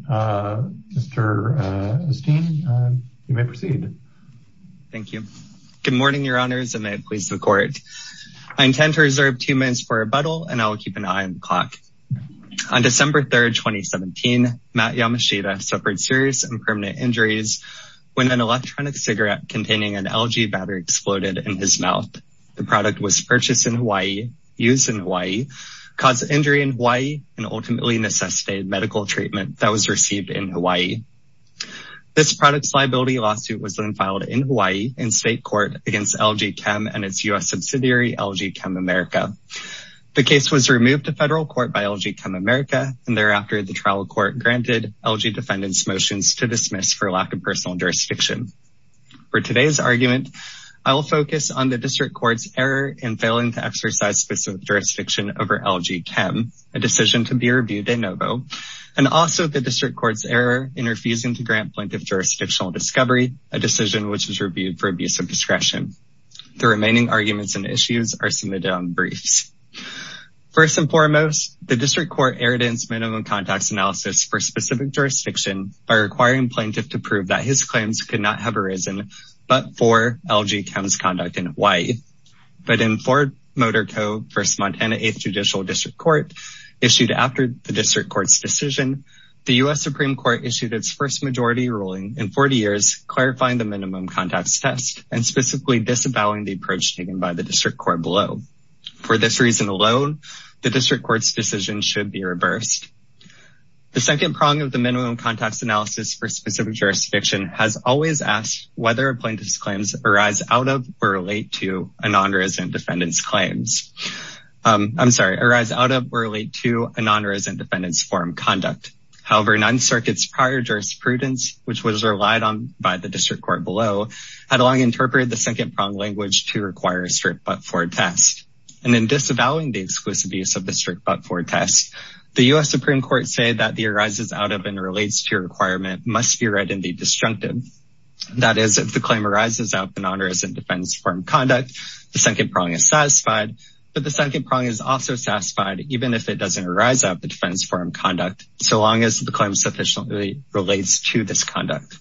Mr. Esteem, you may proceed. Thank you. Good morning, your honors, and may it please the court. I intend to reserve two minutes for rebuttal, and I will keep an eye on the clock. On December 3rd, 2017, Matt Yamashita suffered serious and permanent injuries when an electronic cigarette containing an LG battery exploded in his mouth. The product was purchased in Hawaii, used in Hawaii, caused an injury in Hawaii, and ultimately necessitated medical treatment that was received in Hawaii. This product's liability lawsuit was then filed in Hawaii in state court against LG Chem and its U.S. subsidiary, LG Chem America. The case was removed to federal court by LG Chem America, and thereafter, the trial court granted LG defendants' motions to dismiss for lack of personal jurisdiction. For today's argument, I will focus on the district court's error in failing to exercise specific jurisdiction over LG Chem, a decision to be reviewed de novo, and also the district court's error in refusing to grant plaintiff jurisdictional discovery, a decision which was reviewed for abuse of discretion. The remaining arguments and issues are submitted on briefs. First and foremost, the district court erred in its minimum context analysis for specific jurisdiction by requiring plaintiff to prove that his claims could not have arisen but for LG Chem's conduct in Hawaii. But in Ford Motor Co., First Montana 8th Judicial District Court, issued after the district court's decision, the U.S. Supreme Court issued its first majority ruling in 40 years, clarifying the minimum context test and specifically disavowing the approach taken by the district court below. For this reason alone, the district court's decision should be reversed. The second prong of the minimum context analysis for specific jurisdiction has always asked whether a plaintiff's claims arise out of or relate to a non-resent defendant's claims. I'm sorry, arise out of or relate to a non-resent defendant's form of conduct. However, non-circuit's prior jurisprudence, which was relied on by the district court below, had long interpreted the second prong language to require a strict but-for test. And in disavowing the exclusive use of the strict but-for test, the U.S. Supreme Court say that the arises out of and relates to requirement must be read and be disjunctive. That is, if the claim arises out of a non-resent defendant's form of conduct, the second prong is satisfied, but the second prong is also satisfied even if it doesn't arise out of the defendant's form of conduct so long as the claim sufficiently relates to this conduct.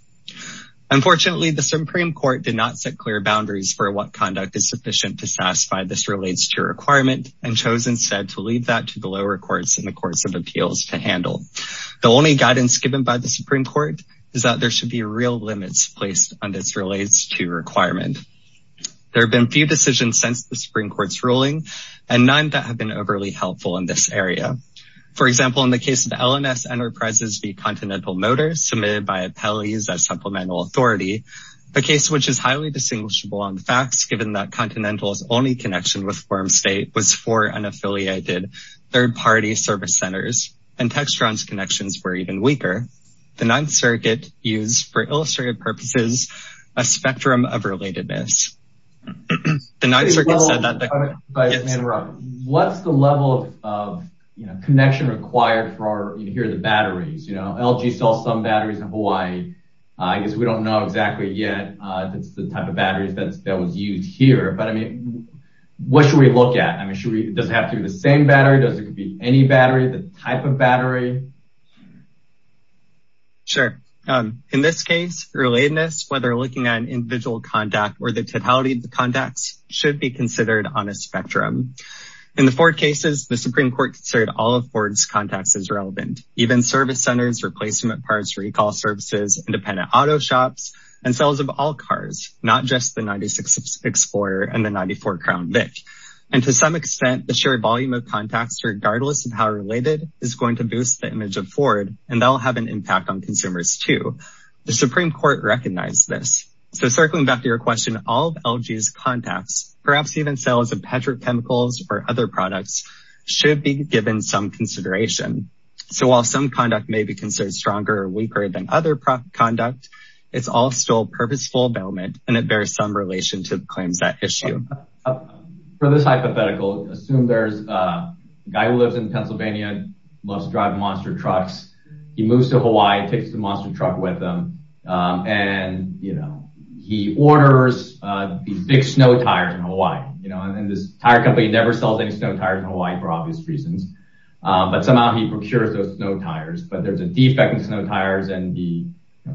Unfortunately, the Supreme Court did not set clear boundaries for what conduct is sufficient to satisfy this relates to requirement and chose instead to leave that to the lower courts and the courts of appeals to handle. The only guidance given by the Supreme Court is that there should be real limits placed on this relates to requirement. There have been few decisions since the Supreme Court's ruling and none that have been overly helpful in this area. For example, in the case of LNS Enterprises v. Continental Motors, submitted by appellees as supplemental authority, a case which is highly distinguishable on the facts given that Continental's only connection with Wormstate was for unaffiliated third-party service centers and Textron's connections were even weaker. The Ninth Circuit used, for illustrative purposes, a spectrum of relatedness. The Ninth Circuit said that the- Yes. What's the level of connection required for here are the batteries? LG sells some batteries in Hawaii. I guess we don't know exactly yet that's the type of batteries that was used here. But I mean, what should we look at? I mean, does it have to be the same battery? Does it could be any battery, the type of battery? Sure, in this case, relatedness, whether looking at an individual contact or the totality of the contacts should be considered on a spectrum. In the four cases, the Supreme Court considered all of Ford's contacts as relevant, even service centers, replacement parts, recall services, independent auto shops, and sales of all cars, not just the 96 Explorer and the 94 Crown Vic. And to some extent, the sheer volume of contacts, regardless of how related, is going to boost things. And that's the image of Ford, and that'll have an impact on consumers too. The Supreme Court recognized this. So circling back to your question, all of LG's contacts, perhaps even sales of petrochemicals or other products, should be given some consideration. So while some conduct may be considered stronger or weaker than other conduct, it's all still purposeful development, and it bears some relation to the claims that issue. For this hypothetical, assume there's a guy who lives in Pennsylvania, loves to drive monster trucks, he moves to Hawaii, takes the monster truck with him, and he orders these big snow tires in Hawaii. And this tire company never sells any snow tires in Hawaii for obvious reasons, but somehow he procures those snow tires. But there's a defect in snow tires, and he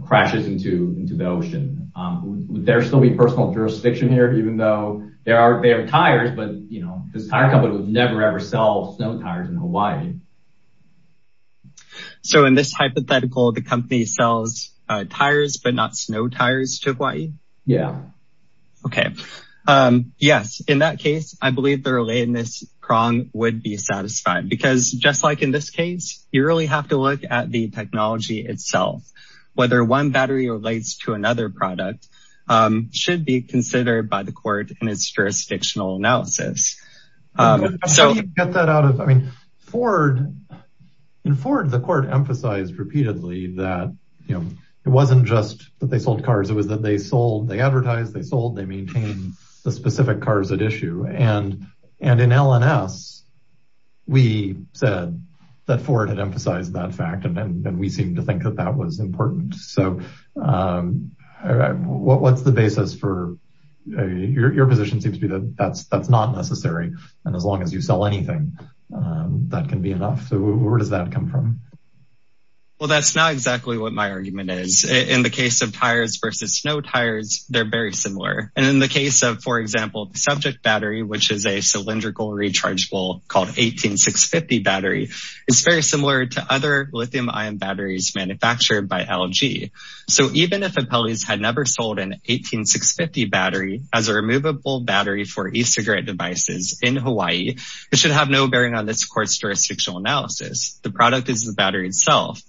crashes into the ocean. Would there still be personal jurisdiction here, even though they have tires, but this tire company would never ever sell snow tires in Hawaii? So in this hypothetical, the company sells tires, but not snow tires to Hawaii? Yeah. Okay. Yes. In that case, I believe the relatedness prong would be satisfied, because just like in this case, you really have to look at the technology itself. Whether one battery relates to another product, should be considered by the court in its jurisdictional analysis. So- How do you get that out of, I mean, in Ford, the court emphasized repeatedly that, it wasn't just that they sold cars, it was that they sold, they advertised, they sold, they maintained the specific cars at issue. And in LNS, we said that Ford had emphasized that fact, and then we seem to think that that was important. So what's the basis for, your position seems to be that that's not necessary. And as long as you sell anything, that can be enough. So where does that come from? Well, that's not exactly what my argument is. In the case of tires versus snow tires, they're very similar. And in the case of, for example, the subject battery, which is a cylindrical rechargeable called 18650 battery, it's very similar to other lithium ion batteries manufactured by LG. So even if Appellee's had never sold an 18650 battery as a removable battery for e-cigarette devices in Hawaii, it should have no bearing on this court's jurisdictional analysis. The product is the battery itself.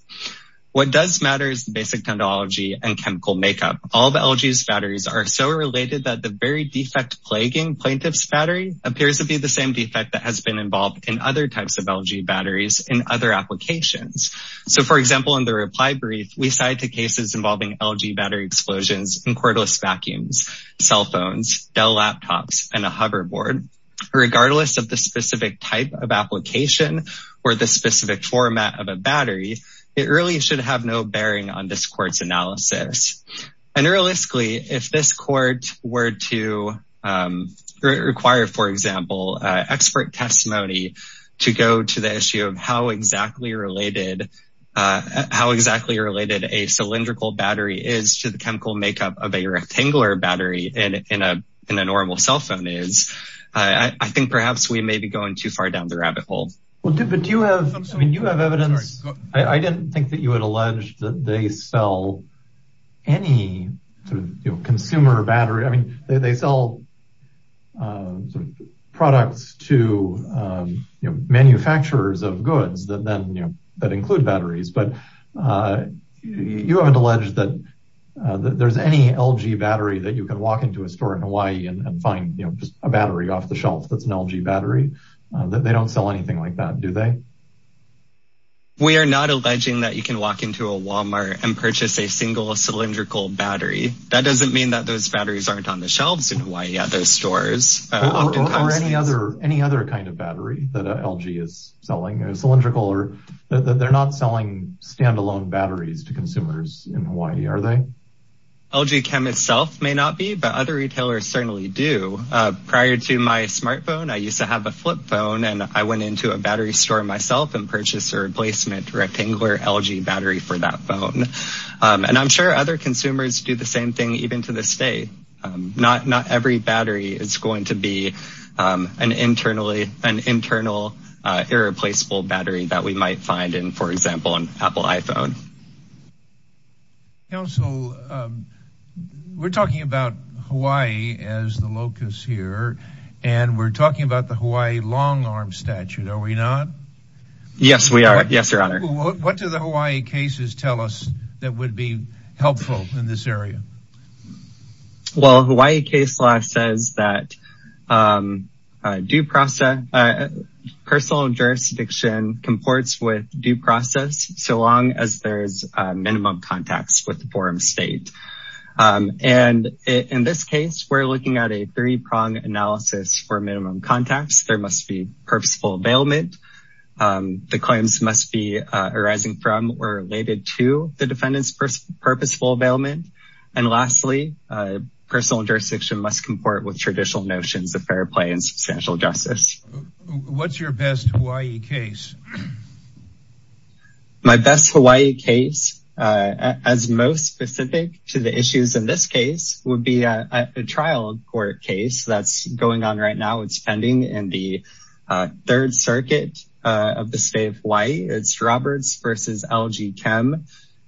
What does matter is the basic technology and chemical makeup. All the LG's batteries are so related that the very defect plaguing plaintiff's battery appears to be the same defect that has been involved in other types of LG batteries in other applications. So for example, in the reply brief, we cite the cases involving LG battery explosions in cordless vacuums, cell phones, Dell laptops, and a hoverboard. Regardless of the specific type of application or the specific format of a battery, it really should have no bearing on this court's analysis. And realistically, if this court were to require, for example, expert testimony to go to the issue of how exactly related a cylindrical battery is to the chemical makeup of a rectangular battery in a normal cell phone is, I think perhaps we may be going too far down the rabbit hole. Well, but do you have, I mean, you have evidence. I didn't think that you had alleged that they sell any consumer battery. I mean, they sell products to manufacturers of goods that include batteries, but you haven't alleged that there's any LG battery that you can walk into a store in Hawaii and find just a battery off the shelf that's an LG battery, that they don't sell anything like that, do they? We are not alleging that you can walk into a Walmart and purchase a single cylindrical battery. That doesn't mean that those batteries aren't on the shelves in Hawaii at those stores. Or any other kind of battery that LG is selling, cylindrical or, they're not selling standalone batteries to consumers in Hawaii, are they? LG Chem itself may not be, but other retailers certainly do. Prior to my smartphone, I used to have a flip phone and I went into a battery store myself and purchased a replacement rectangular LG battery for that phone. And I'm sure other consumers do the same thing even to this day. Not every battery is going to be an internal irreplaceable battery that we might find in, for example, an Apple iPhone. Council, we're talking about Hawaii as the locus here and we're talking about the Hawaii long arm statute. Are we not? Yes, we are. Yes, Your Honor. What do the Hawaii cases tell us that would be helpful in this area? Well, Hawaii case law says that personal jurisdiction comports with due process so long as there's minimum contacts with the forum state. And in this case, we're looking at a three-prong analysis for minimum contacts. There must be purposeful availment. The claims must be arising from or related to the defendant's purposeful availment. And lastly, personal jurisdiction must comport with traditional notions of fair play and substantial justice. What's your best Hawaii case? My best Hawaii case, as most specific to the issues in this case, would be a trial court case that's going on right now. It's pending in the Third Circuit of the State of Hawaii. It's Roberts versus LG Chem.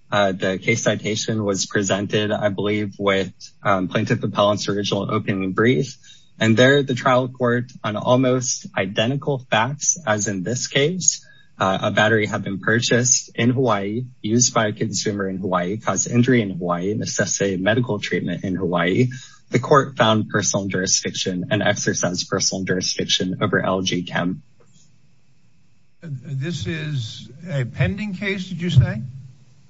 The case citation was presented, I believe, with Plaintiff Appellant's original opening brief. And there, the trial court on almost identical facts as in this case, a battery had been purchased in Hawaii, used by a consumer in Hawaii, caused injury in Hawaii, and assessed a medical treatment in Hawaii. The court found personal jurisdiction and exercised personal jurisdiction over LG Chem. This is a pending case, did you say?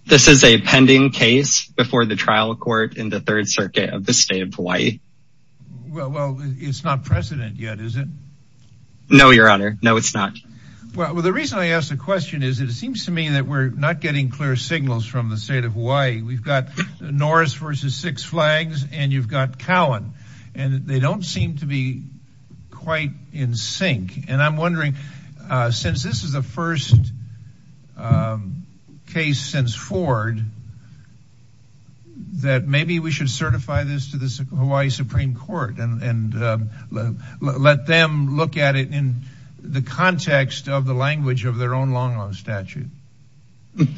This is a pending case before the trial court in the Third Circuit of the State of Hawaii. Well, it's not precedent yet, is it? No, Your Honor. No, it's not. Well, the reason I ask the question is that it seems to me that we're not getting clear signals from the State of Hawaii. We've got Norris versus Six Flags, and you've got Cowan. And they don't seem to be quite in sync. And I'm wondering, since this is the first case since Ford, that maybe we should certify this to the Hawaii Supreme Court and let them look at it in the context of the language of their own long-lost statute.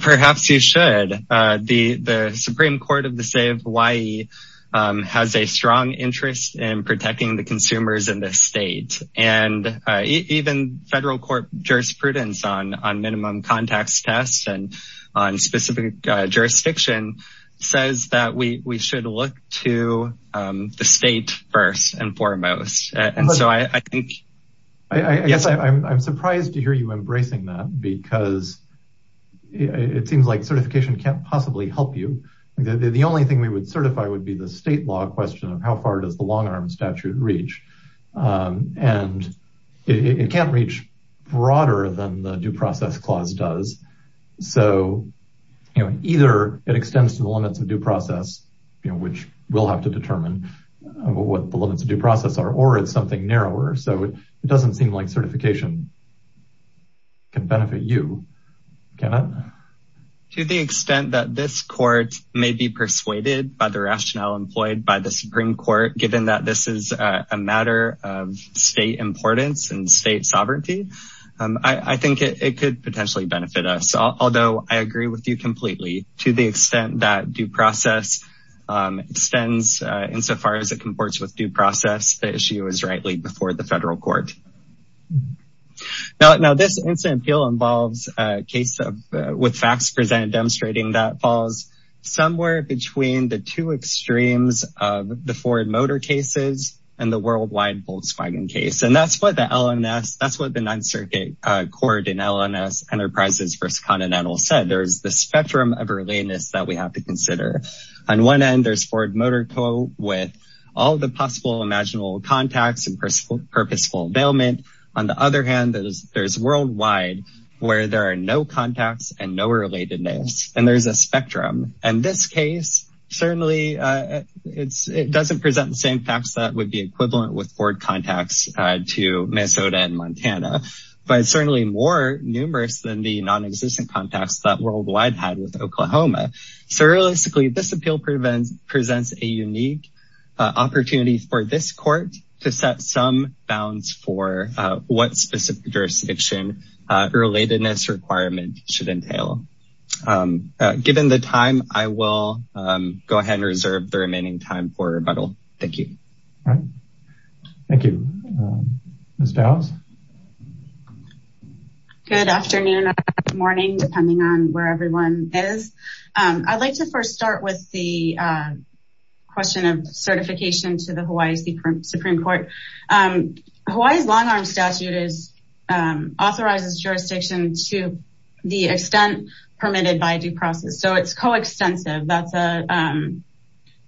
Perhaps you should. The Supreme Court of the State of Hawaii has a strong interest in protecting the consumers in this state. And even federal court jurisprudence on minimum contacts tests and on specific jurisdiction says that we should look to the state first and foremost. And so I think, yes. I'm surprised to hear you embracing that because it seems like certification can't possibly help you. The only thing we would certify would be the state law question of how far does the long-arm statute reach. And it can't reach broader than the due process clause does. So either it extends to the limits of due process, which we'll have to determine what the limits of due process are, or it's something narrower. So it doesn't seem like certification can benefit you. Kenneth? To the extent that this court may be persuaded by the rationale employed by the Supreme Court, given that this is a matter of state importance and state sovereignty, I think it could potentially benefit us. Although I agree with you completely to the extent that due process extends insofar as it comports with due process, the issue is rightly before the federal court. Now this incident appeal involves a case with facts presented demonstrating that falls somewhere between the two extremes of the Ford Motor cases and the worldwide Volkswagen case. And that's what the LNS, that's what the Ninth Circuit Court in LNS Enterprises v. Continental said. There's this spectrum of relatedness that we have to consider. On one end, there's Ford Motor Co. with all the possible imaginable contacts and purposeful availment. On the other hand, there's worldwide where there are no contacts and no relatedness, and there's a spectrum. In this case, certainly it doesn't present the same facts that would be equivalent with Ford contacts to Minnesota and Montana, but it's certainly more numerous than the non-existent contacts that worldwide had with Oklahoma. So realistically, this appeal presents a unique opportunity for this court to set some bounds for what specific jurisdiction relatedness requirement should entail. Given the time, I will go ahead and reserve the remaining time for rebuttal. Thank you. All right. Thank you. Ms. Dallas. Good afternoon or good morning, depending on where everyone is. I'd like to first start with the question of certification to the Hawaii Supreme Court. Hawaii's long arm statute authorizes jurisdiction to the extent permitted by due process. So it's co-extensive. That's a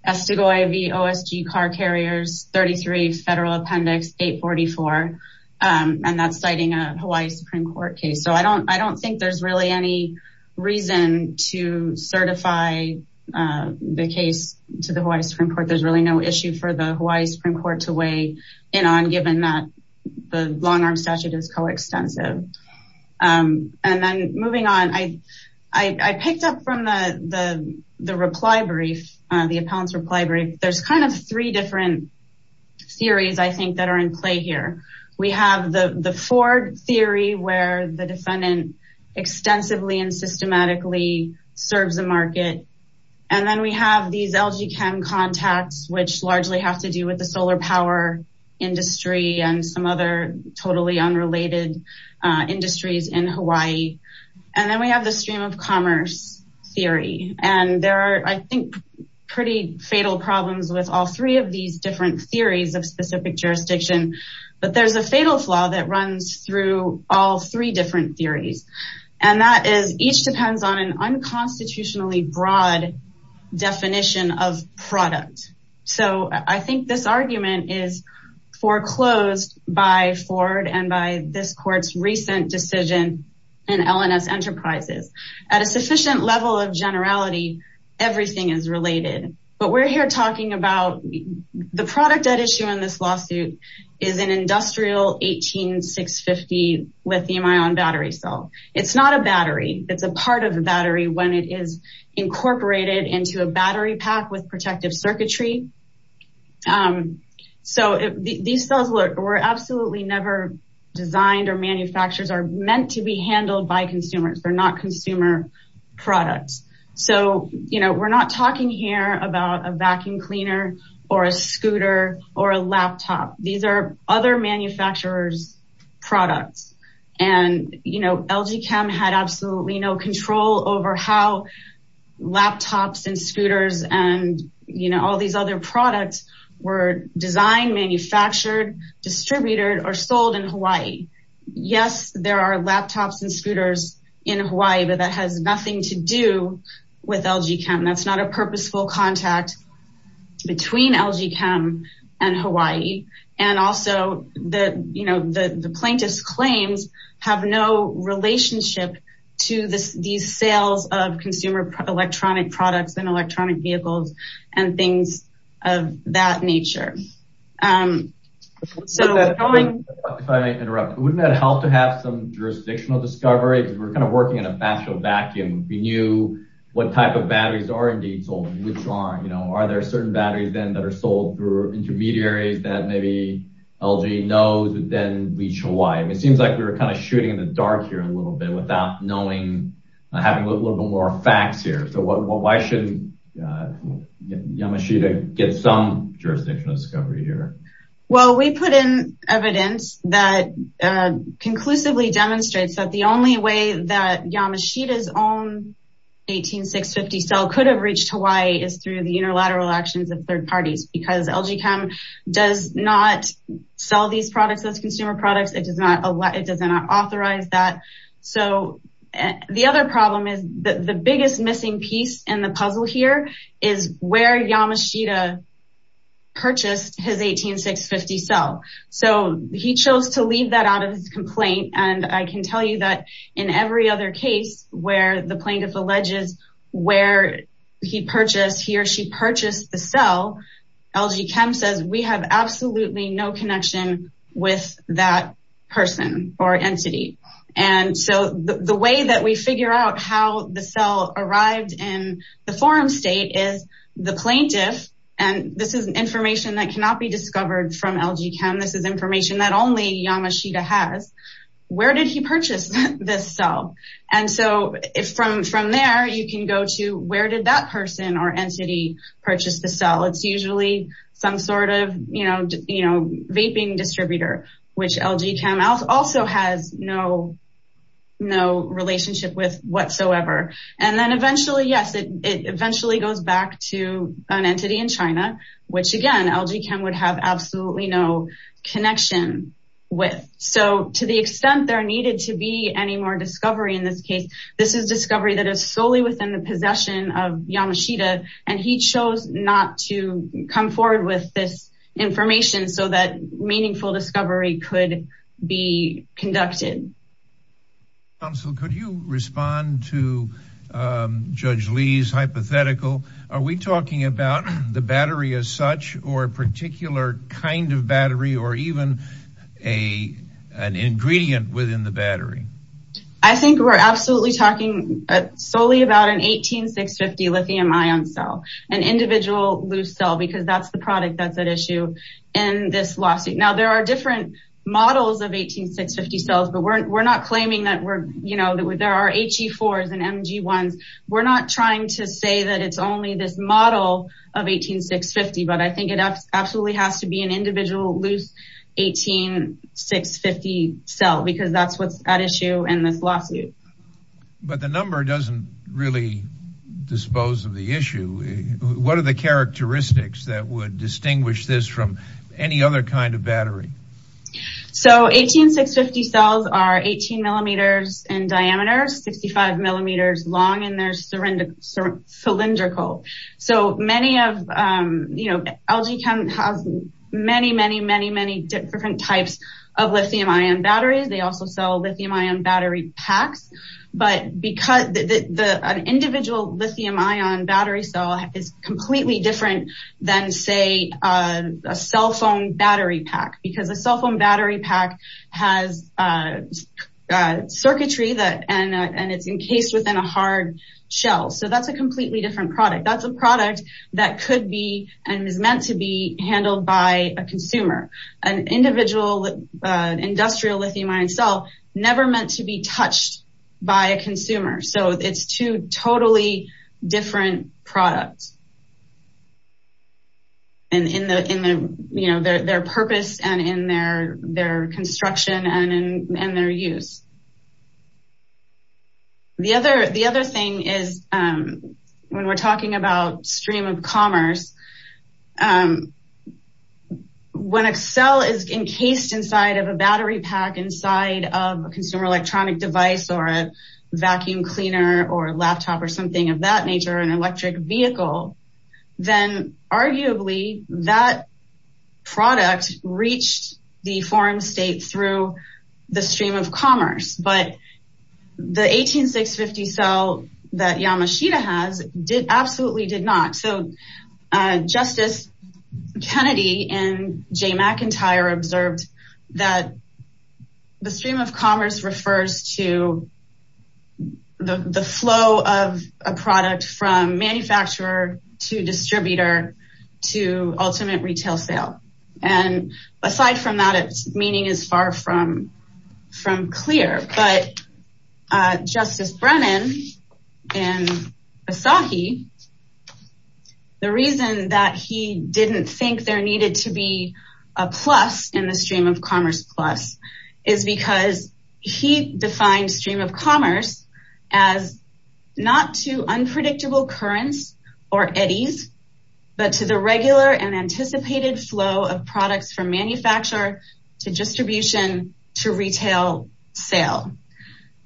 Estego IV OSG car carriers, 33 Federal Appendix 844, and that's citing a Hawaii Supreme Court case. So I don't think there's really any reason to certify the case to the Hawaii Supreme Court. There's really no issue for the Hawaii Supreme Court to weigh in on, given that the long arm statute is co-extensive. And then moving on, I picked up from the reply brief, the appellant's reply brief. There's kind of three different theories, I think that are in play here. We have the Ford theory, where the defendant extensively and systematically serves the market. And then we have these LG Chem contacts, which largely have to do with the solar power industry and some other totally unrelated industries in Hawaii. And then we have the stream of commerce theory. And there are, I think, pretty fatal problems with all three of these different theories of specific jurisdiction, but there's a fatal flaw that runs through all three different theories. And that is each depends on an unconstitutionally broad definition of product. So I think this argument is foreclosed by Ford and by this court's recent decision in LNS Enterprises. At a sufficient level of generality, everything is related, but we're here talking about the product at issue in this lawsuit is an industrial 18650 lithium ion battery cell. It's not a battery. It's a part of the battery when it is incorporated into a battery pack with protective circuitry. So these cells were absolutely never designed or manufacturers are meant to be handled by consumers. They're not consumer products. So, you know, we're not talking here about a vacuum cleaner or a scooter or a laptop. These are other manufacturers products. And, you know, LG Chem had absolutely no control over how laptops and scooters and, you know, all these other products were designed, manufactured, distributed or sold in Hawaii. Yes, there are laptops and scooters in Hawaii, but that has nothing to do with LG Chem. That's not a purposeful contact between LG Chem and Hawaii. And also the, you know, the plaintiff's claims have no relationship to these sales of consumer electronic products and electronic vehicles and things of that nature. So going- If I may interrupt, wouldn't that help to have some jurisdictional discovery? Because we're kind of working in a factual vacuum. We knew what type of batteries are indeed sold, which are, you know, are there certain batteries then that are sold through intermediaries that maybe LG knows, but then reach Hawaii. It seems like we were kind of shooting in the dark here a little bit. Without knowing, having a little bit more facts here. So why should Yamashita get some jurisdictional discovery here? Well, we put in evidence that conclusively demonstrates that the only way that Yamashita's own 18650 cell could have reached Hawaii is through the interlateral actions of third parties, because LG Chem does not sell these products as consumer products. It does not allow- It does not authorize that. So the other problem is that the biggest missing piece in the puzzle here is where Yamashita purchased his 18650 cell. So he chose to leave that out of his complaint. And I can tell you that in every other case where the plaintiff alleges where he purchased, he or she purchased the cell, LG Chem says we have absolutely no connection with that person or entity. And so the way that we figure out how the cell arrived in the forum state is the plaintiff, and this is information that cannot be discovered from LG Chem, this is information that only Yamashita has, where did he purchase this cell? And so from there, you can go to where did that person or entity purchase the cell? It's usually some sort of vaping distributor, which LG Chem also has no relationship with whatsoever. And then eventually, yes, it eventually goes back to an entity in China, which again, LG Chem would have absolutely no connection with. So to the extent there needed to be any more discovery in this case, this is discovery that is solely within the possession of Yamashita, and he chose not to come forward with this information so that meaningful discovery could be conducted. Council, could you respond to Judge Lee's hypothetical? Are we talking about the battery as such or a particular kind of battery or even an ingredient within the battery? I think we're absolutely talking solely about an 18650 lithium ion cell, an individual loose cell, because that's the product that's at issue. And this lawsuit, now there are different models of 18650 cells, but we're not claiming that there are HE4s and MG1s. We're not trying to say that it's only this model of 18650, but I think it absolutely has to be an individual loose 18650 cell, because that's what's at issue in this lawsuit. But the number doesn't really dispose of the issue. What are the characteristics that would distinguish this from any other kind of battery? So 18650 cells are 18 millimeters in diameter, 65 millimeters long, and they're cylindrical. So many of, you know, LG Chem has many, many, many, many different types of lithium ion batteries. They also sell lithium ion battery packs, but because an individual lithium ion battery cell is completely different than say a cell phone battery pack, because a cell phone battery pack has circuitry and it's encased within a hard shell. So that's a completely different product. That's a product that could be, and is meant to be handled by a consumer. An individual industrial lithium ion cell, never meant to be touched by a consumer. So it's two totally different products. And in the, you know, their purpose and in their construction and their use. The other thing is when we're talking about stream of commerce, when a cell is encased inside of a battery pack inside of a consumer electronic device or a vacuum cleaner or a laptop or something of that nature, an electric vehicle, then arguably that product reached the foreign state through the stream of commerce. But the 18650 cell that Yamashita has did, absolutely did not. So Justice Kennedy and Jay McIntyre observed that the stream of commerce refers to the flow of a product from manufacturer to distributor to ultimate retail sale. And aside from that, it's meaning is far from clear. But Justice Brennan and Asahi, the reason that he didn't think there needed to be a plus in the stream of commerce plus, is because he defined stream of commerce as not to unpredictable currents or eddies, but to the regular and anticipated flow of products from manufacturer to distribution to retail sale.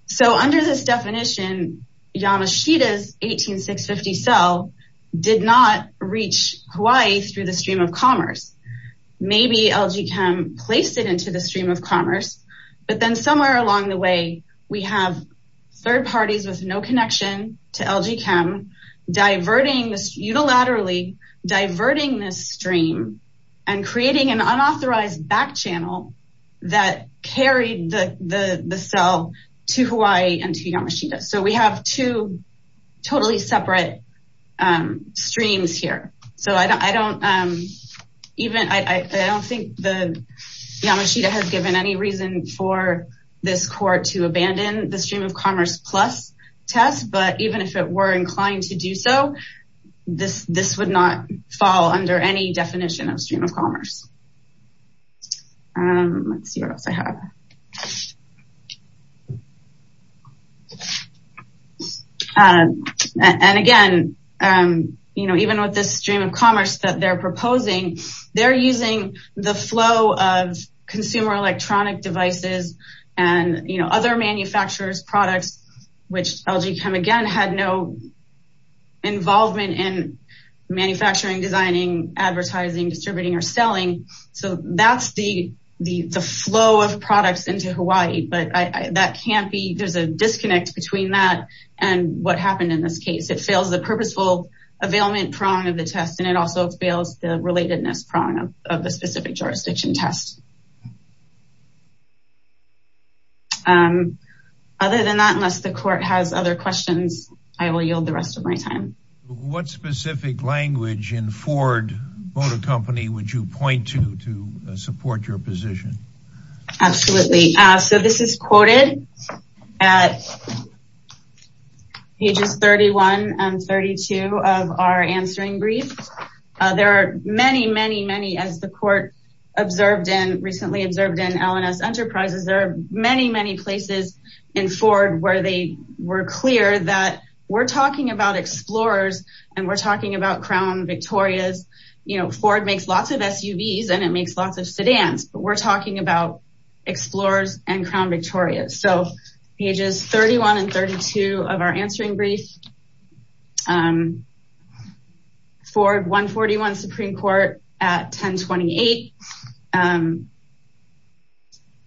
So under this definition, Yamashita's 18650 cell did not reach Hawaii through the stream of commerce. Maybe LG Chem placed it into the stream of commerce, but then somewhere along the way, we have third parties with no connection to LG Chem, diverting this unilaterally, diverting this stream and creating an unauthorized back channel that carried the cell to Hawaii and to Yamashita. So we have two totally separate streams here. So I don't even, I don't think that Yamashita has given any reason for this court to abandon the stream of commerce plus test, but even if it were inclined to do so, this would not fall under any definition of stream of commerce. Let's see what else I have. Yeah. And again, even with this stream of commerce that they're proposing, they're using the flow of consumer electronic devices and other manufacturers products, which LG Chem again had no involvement in manufacturing, designing, advertising, distributing or selling. So that's the flow of products into Hawaii, but that can't be, there's a disconnect between that and what happened in this case. It fails the purposeful availment prong of the test and it also fails the relatedness prong of the specific jurisdiction test. Other than that, unless the court has other questions, I will yield the rest of my time. What specific language in Ford Motor Company would you point to to support your position? Absolutely. So this is quoted at pages 31 and 32 of our answering brief. There are many, many, many, as the court observed and recently observed in L&S Enterprises, there are many, many places in Ford where they were clear that we're talking about Explorers and we're talking about Crown Victorias. Ford makes lots of SUVs and it makes lots of sedans, but we're talking about Explorers and Crown Victorias. So pages 31 and 32 of our answering brief, Ford 141 Supreme Court at 1028.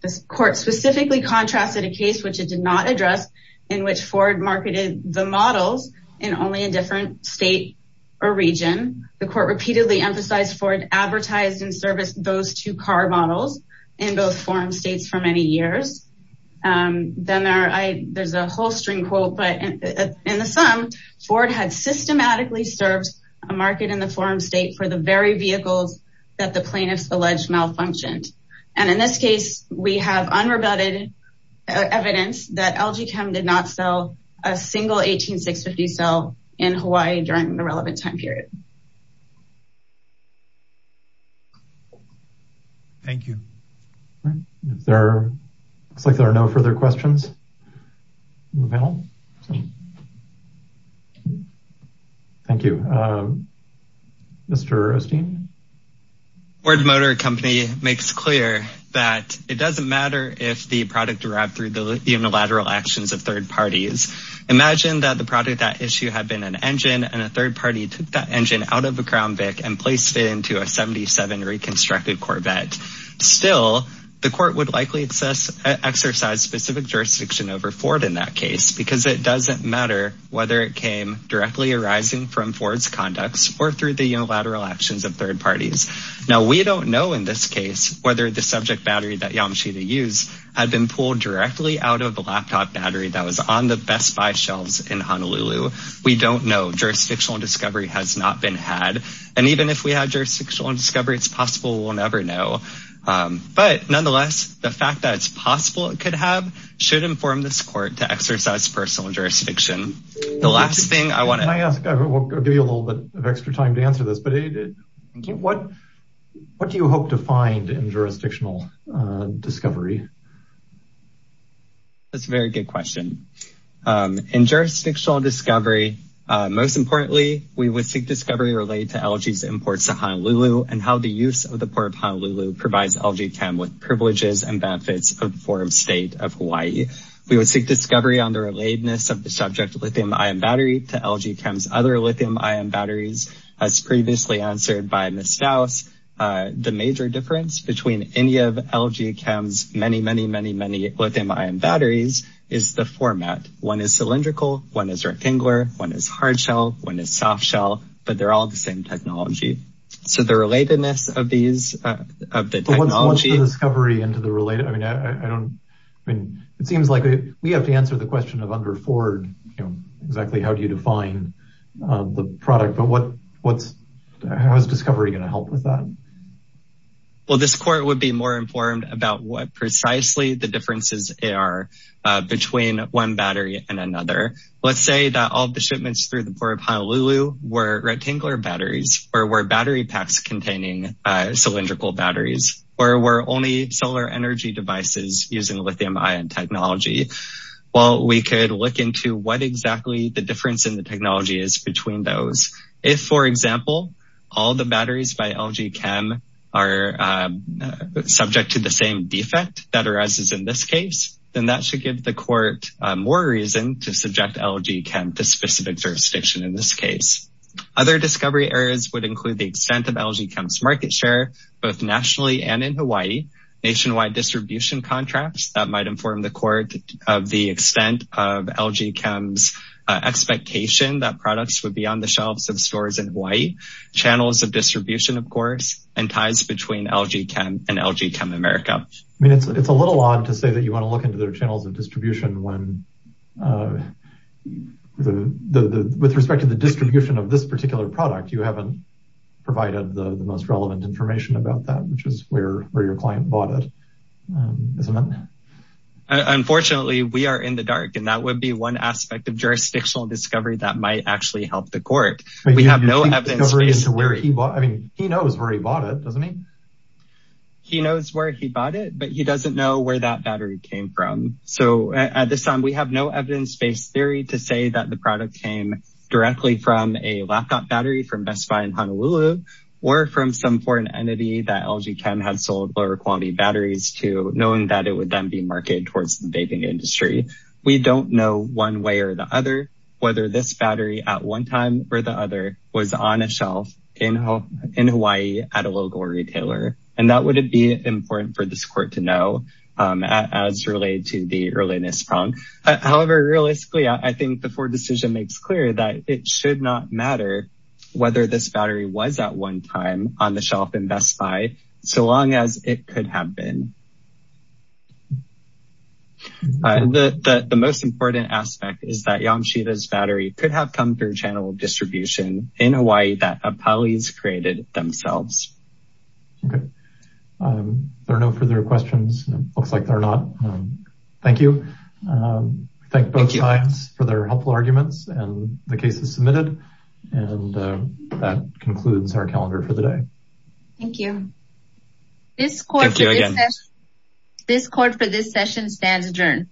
This court specifically contrasted a case which it did not address in which Ford marketed the models in only a different state or region. The court repeatedly emphasized Ford advertised and serviced those two car models in both forum states for many years. Then there's a whole string quote, but in the sum, Ford had systematically served a market in the forum state for the very vehicles that the plaintiffs alleged malfunctioned. And in this case, we have unrebutted evidence that LG Chem did not sell a single 18650 cell in Hawaii during the relevant time period. Thank you. It looks like there are no further questions. Thank you. Mr. Osteen. Ford Motor Company makes clear that it doesn't matter if the product arrived through the unilateral actions of third parties. Imagine that the product that issue had been an engine and a third party took that engine out of a Crown Vic and placed it into a 77 reconstructed Corvette. Still, the court would likely exercise specific jurisdiction over Ford in that case because it doesn't matter whether it came directly arising from Ford's conducts or through the unilateral actions of third parties. Now, we don't know in this case whether the subject battery that Yamashita used had been pulled directly out of the laptop battery that was on the Best Buy shelves in Honolulu. We don't know. Jurisdictional discovery has not been had. And even if we had jurisdictional discovery, it's possible we'll never know. But nonetheless, the fact that it's possible it could have should inform this court to exercise personal jurisdiction. The last thing I want to- Can I ask, I'll give you a little bit of extra time to answer this, but what do you hope to find in jurisdictional discovery? That's a very good question. In jurisdictional discovery, most importantly, we would seek discovery related to LG's imports to Honolulu and how the use of the port of Honolulu provides LG Chem with privileges and benefits of the foreign state of Hawaii. We would seek discovery on the relatedness of the subject lithium-ion battery to LG Chem's other lithium-ion batteries as previously answered by Ms. Staus. The major difference between any of LG Chem's many, many, many, many lithium-ion batteries is the format. One is cylindrical, one is rectangular, one is hard shell, one is soft shell, but they're all the same technology. So the relatedness of these, of the technology- But what's the discovery into the related, I mean, I don't, I mean, it seems like we have to answer the question of under Ford, you know, exactly how do you define the product, but what's, how is discovery gonna help with that? Well, this court would be more informed about what precisely the differences are between one battery and another. Let's say that all of the shipments through the port of Honolulu were rectangular batteries or were battery packs containing cylindrical batteries, or were only solar energy devices using lithium-ion technology. Well, we could look into what exactly the difference in the technology is between those. If, for example, all the batteries by LG Chem are subject to the same defect that arises in this case, then that should give the court more reason to subject LG Chem to specific jurisdiction in this case. Other discovery areas would include the extent of LG Chem's market share, both nationally and in Hawaii, nationwide distribution contracts that might inform the court of the extent of LG Chem's expectation that products would be on the shelves of stores in Hawaii, channels of distribution, of course, and ties between LG Chem and LG Chem America. I mean, it's a little odd to say that you wanna look into their channels of distribution when with respect to the distribution of this particular product, you haven't provided the most relevant information about that, which is where your client bought it, isn't it? Unfortunately, we are in the dark, and that would be one aspect of jurisdictional discovery that might actually help the court. We have no evidence-based theory. He knows where he bought it, doesn't he? He knows where he bought it, but he doesn't know where that battery came from. So at this time, we have no evidence-based theory to say that the product came directly from a laptop battery from Best Buy in Honolulu or from some foreign entity that LG Chem had sold lower quality batteries knowing that it would then be marketed towards the vaping industry. We don't know one way or the other whether this battery at one time or the other was on a shelf in Hawaii at a local retailer. And that would be important for this court to know as related to the earliness problem. However, realistically, I think the Ford decision makes clear that it should not matter whether this battery was at one time on the shelf in Best Buy, so long as it could have been. The most important aspect is that Yamashita's battery could have come through channel distribution in Hawaii that Apalis created themselves. Okay. There are no further questions. Looks like there are not. Thank you. Thank both sides for their helpful arguments and the cases submitted. And that concludes our calendar for the day. Thank you. This court for this session stands adjourned.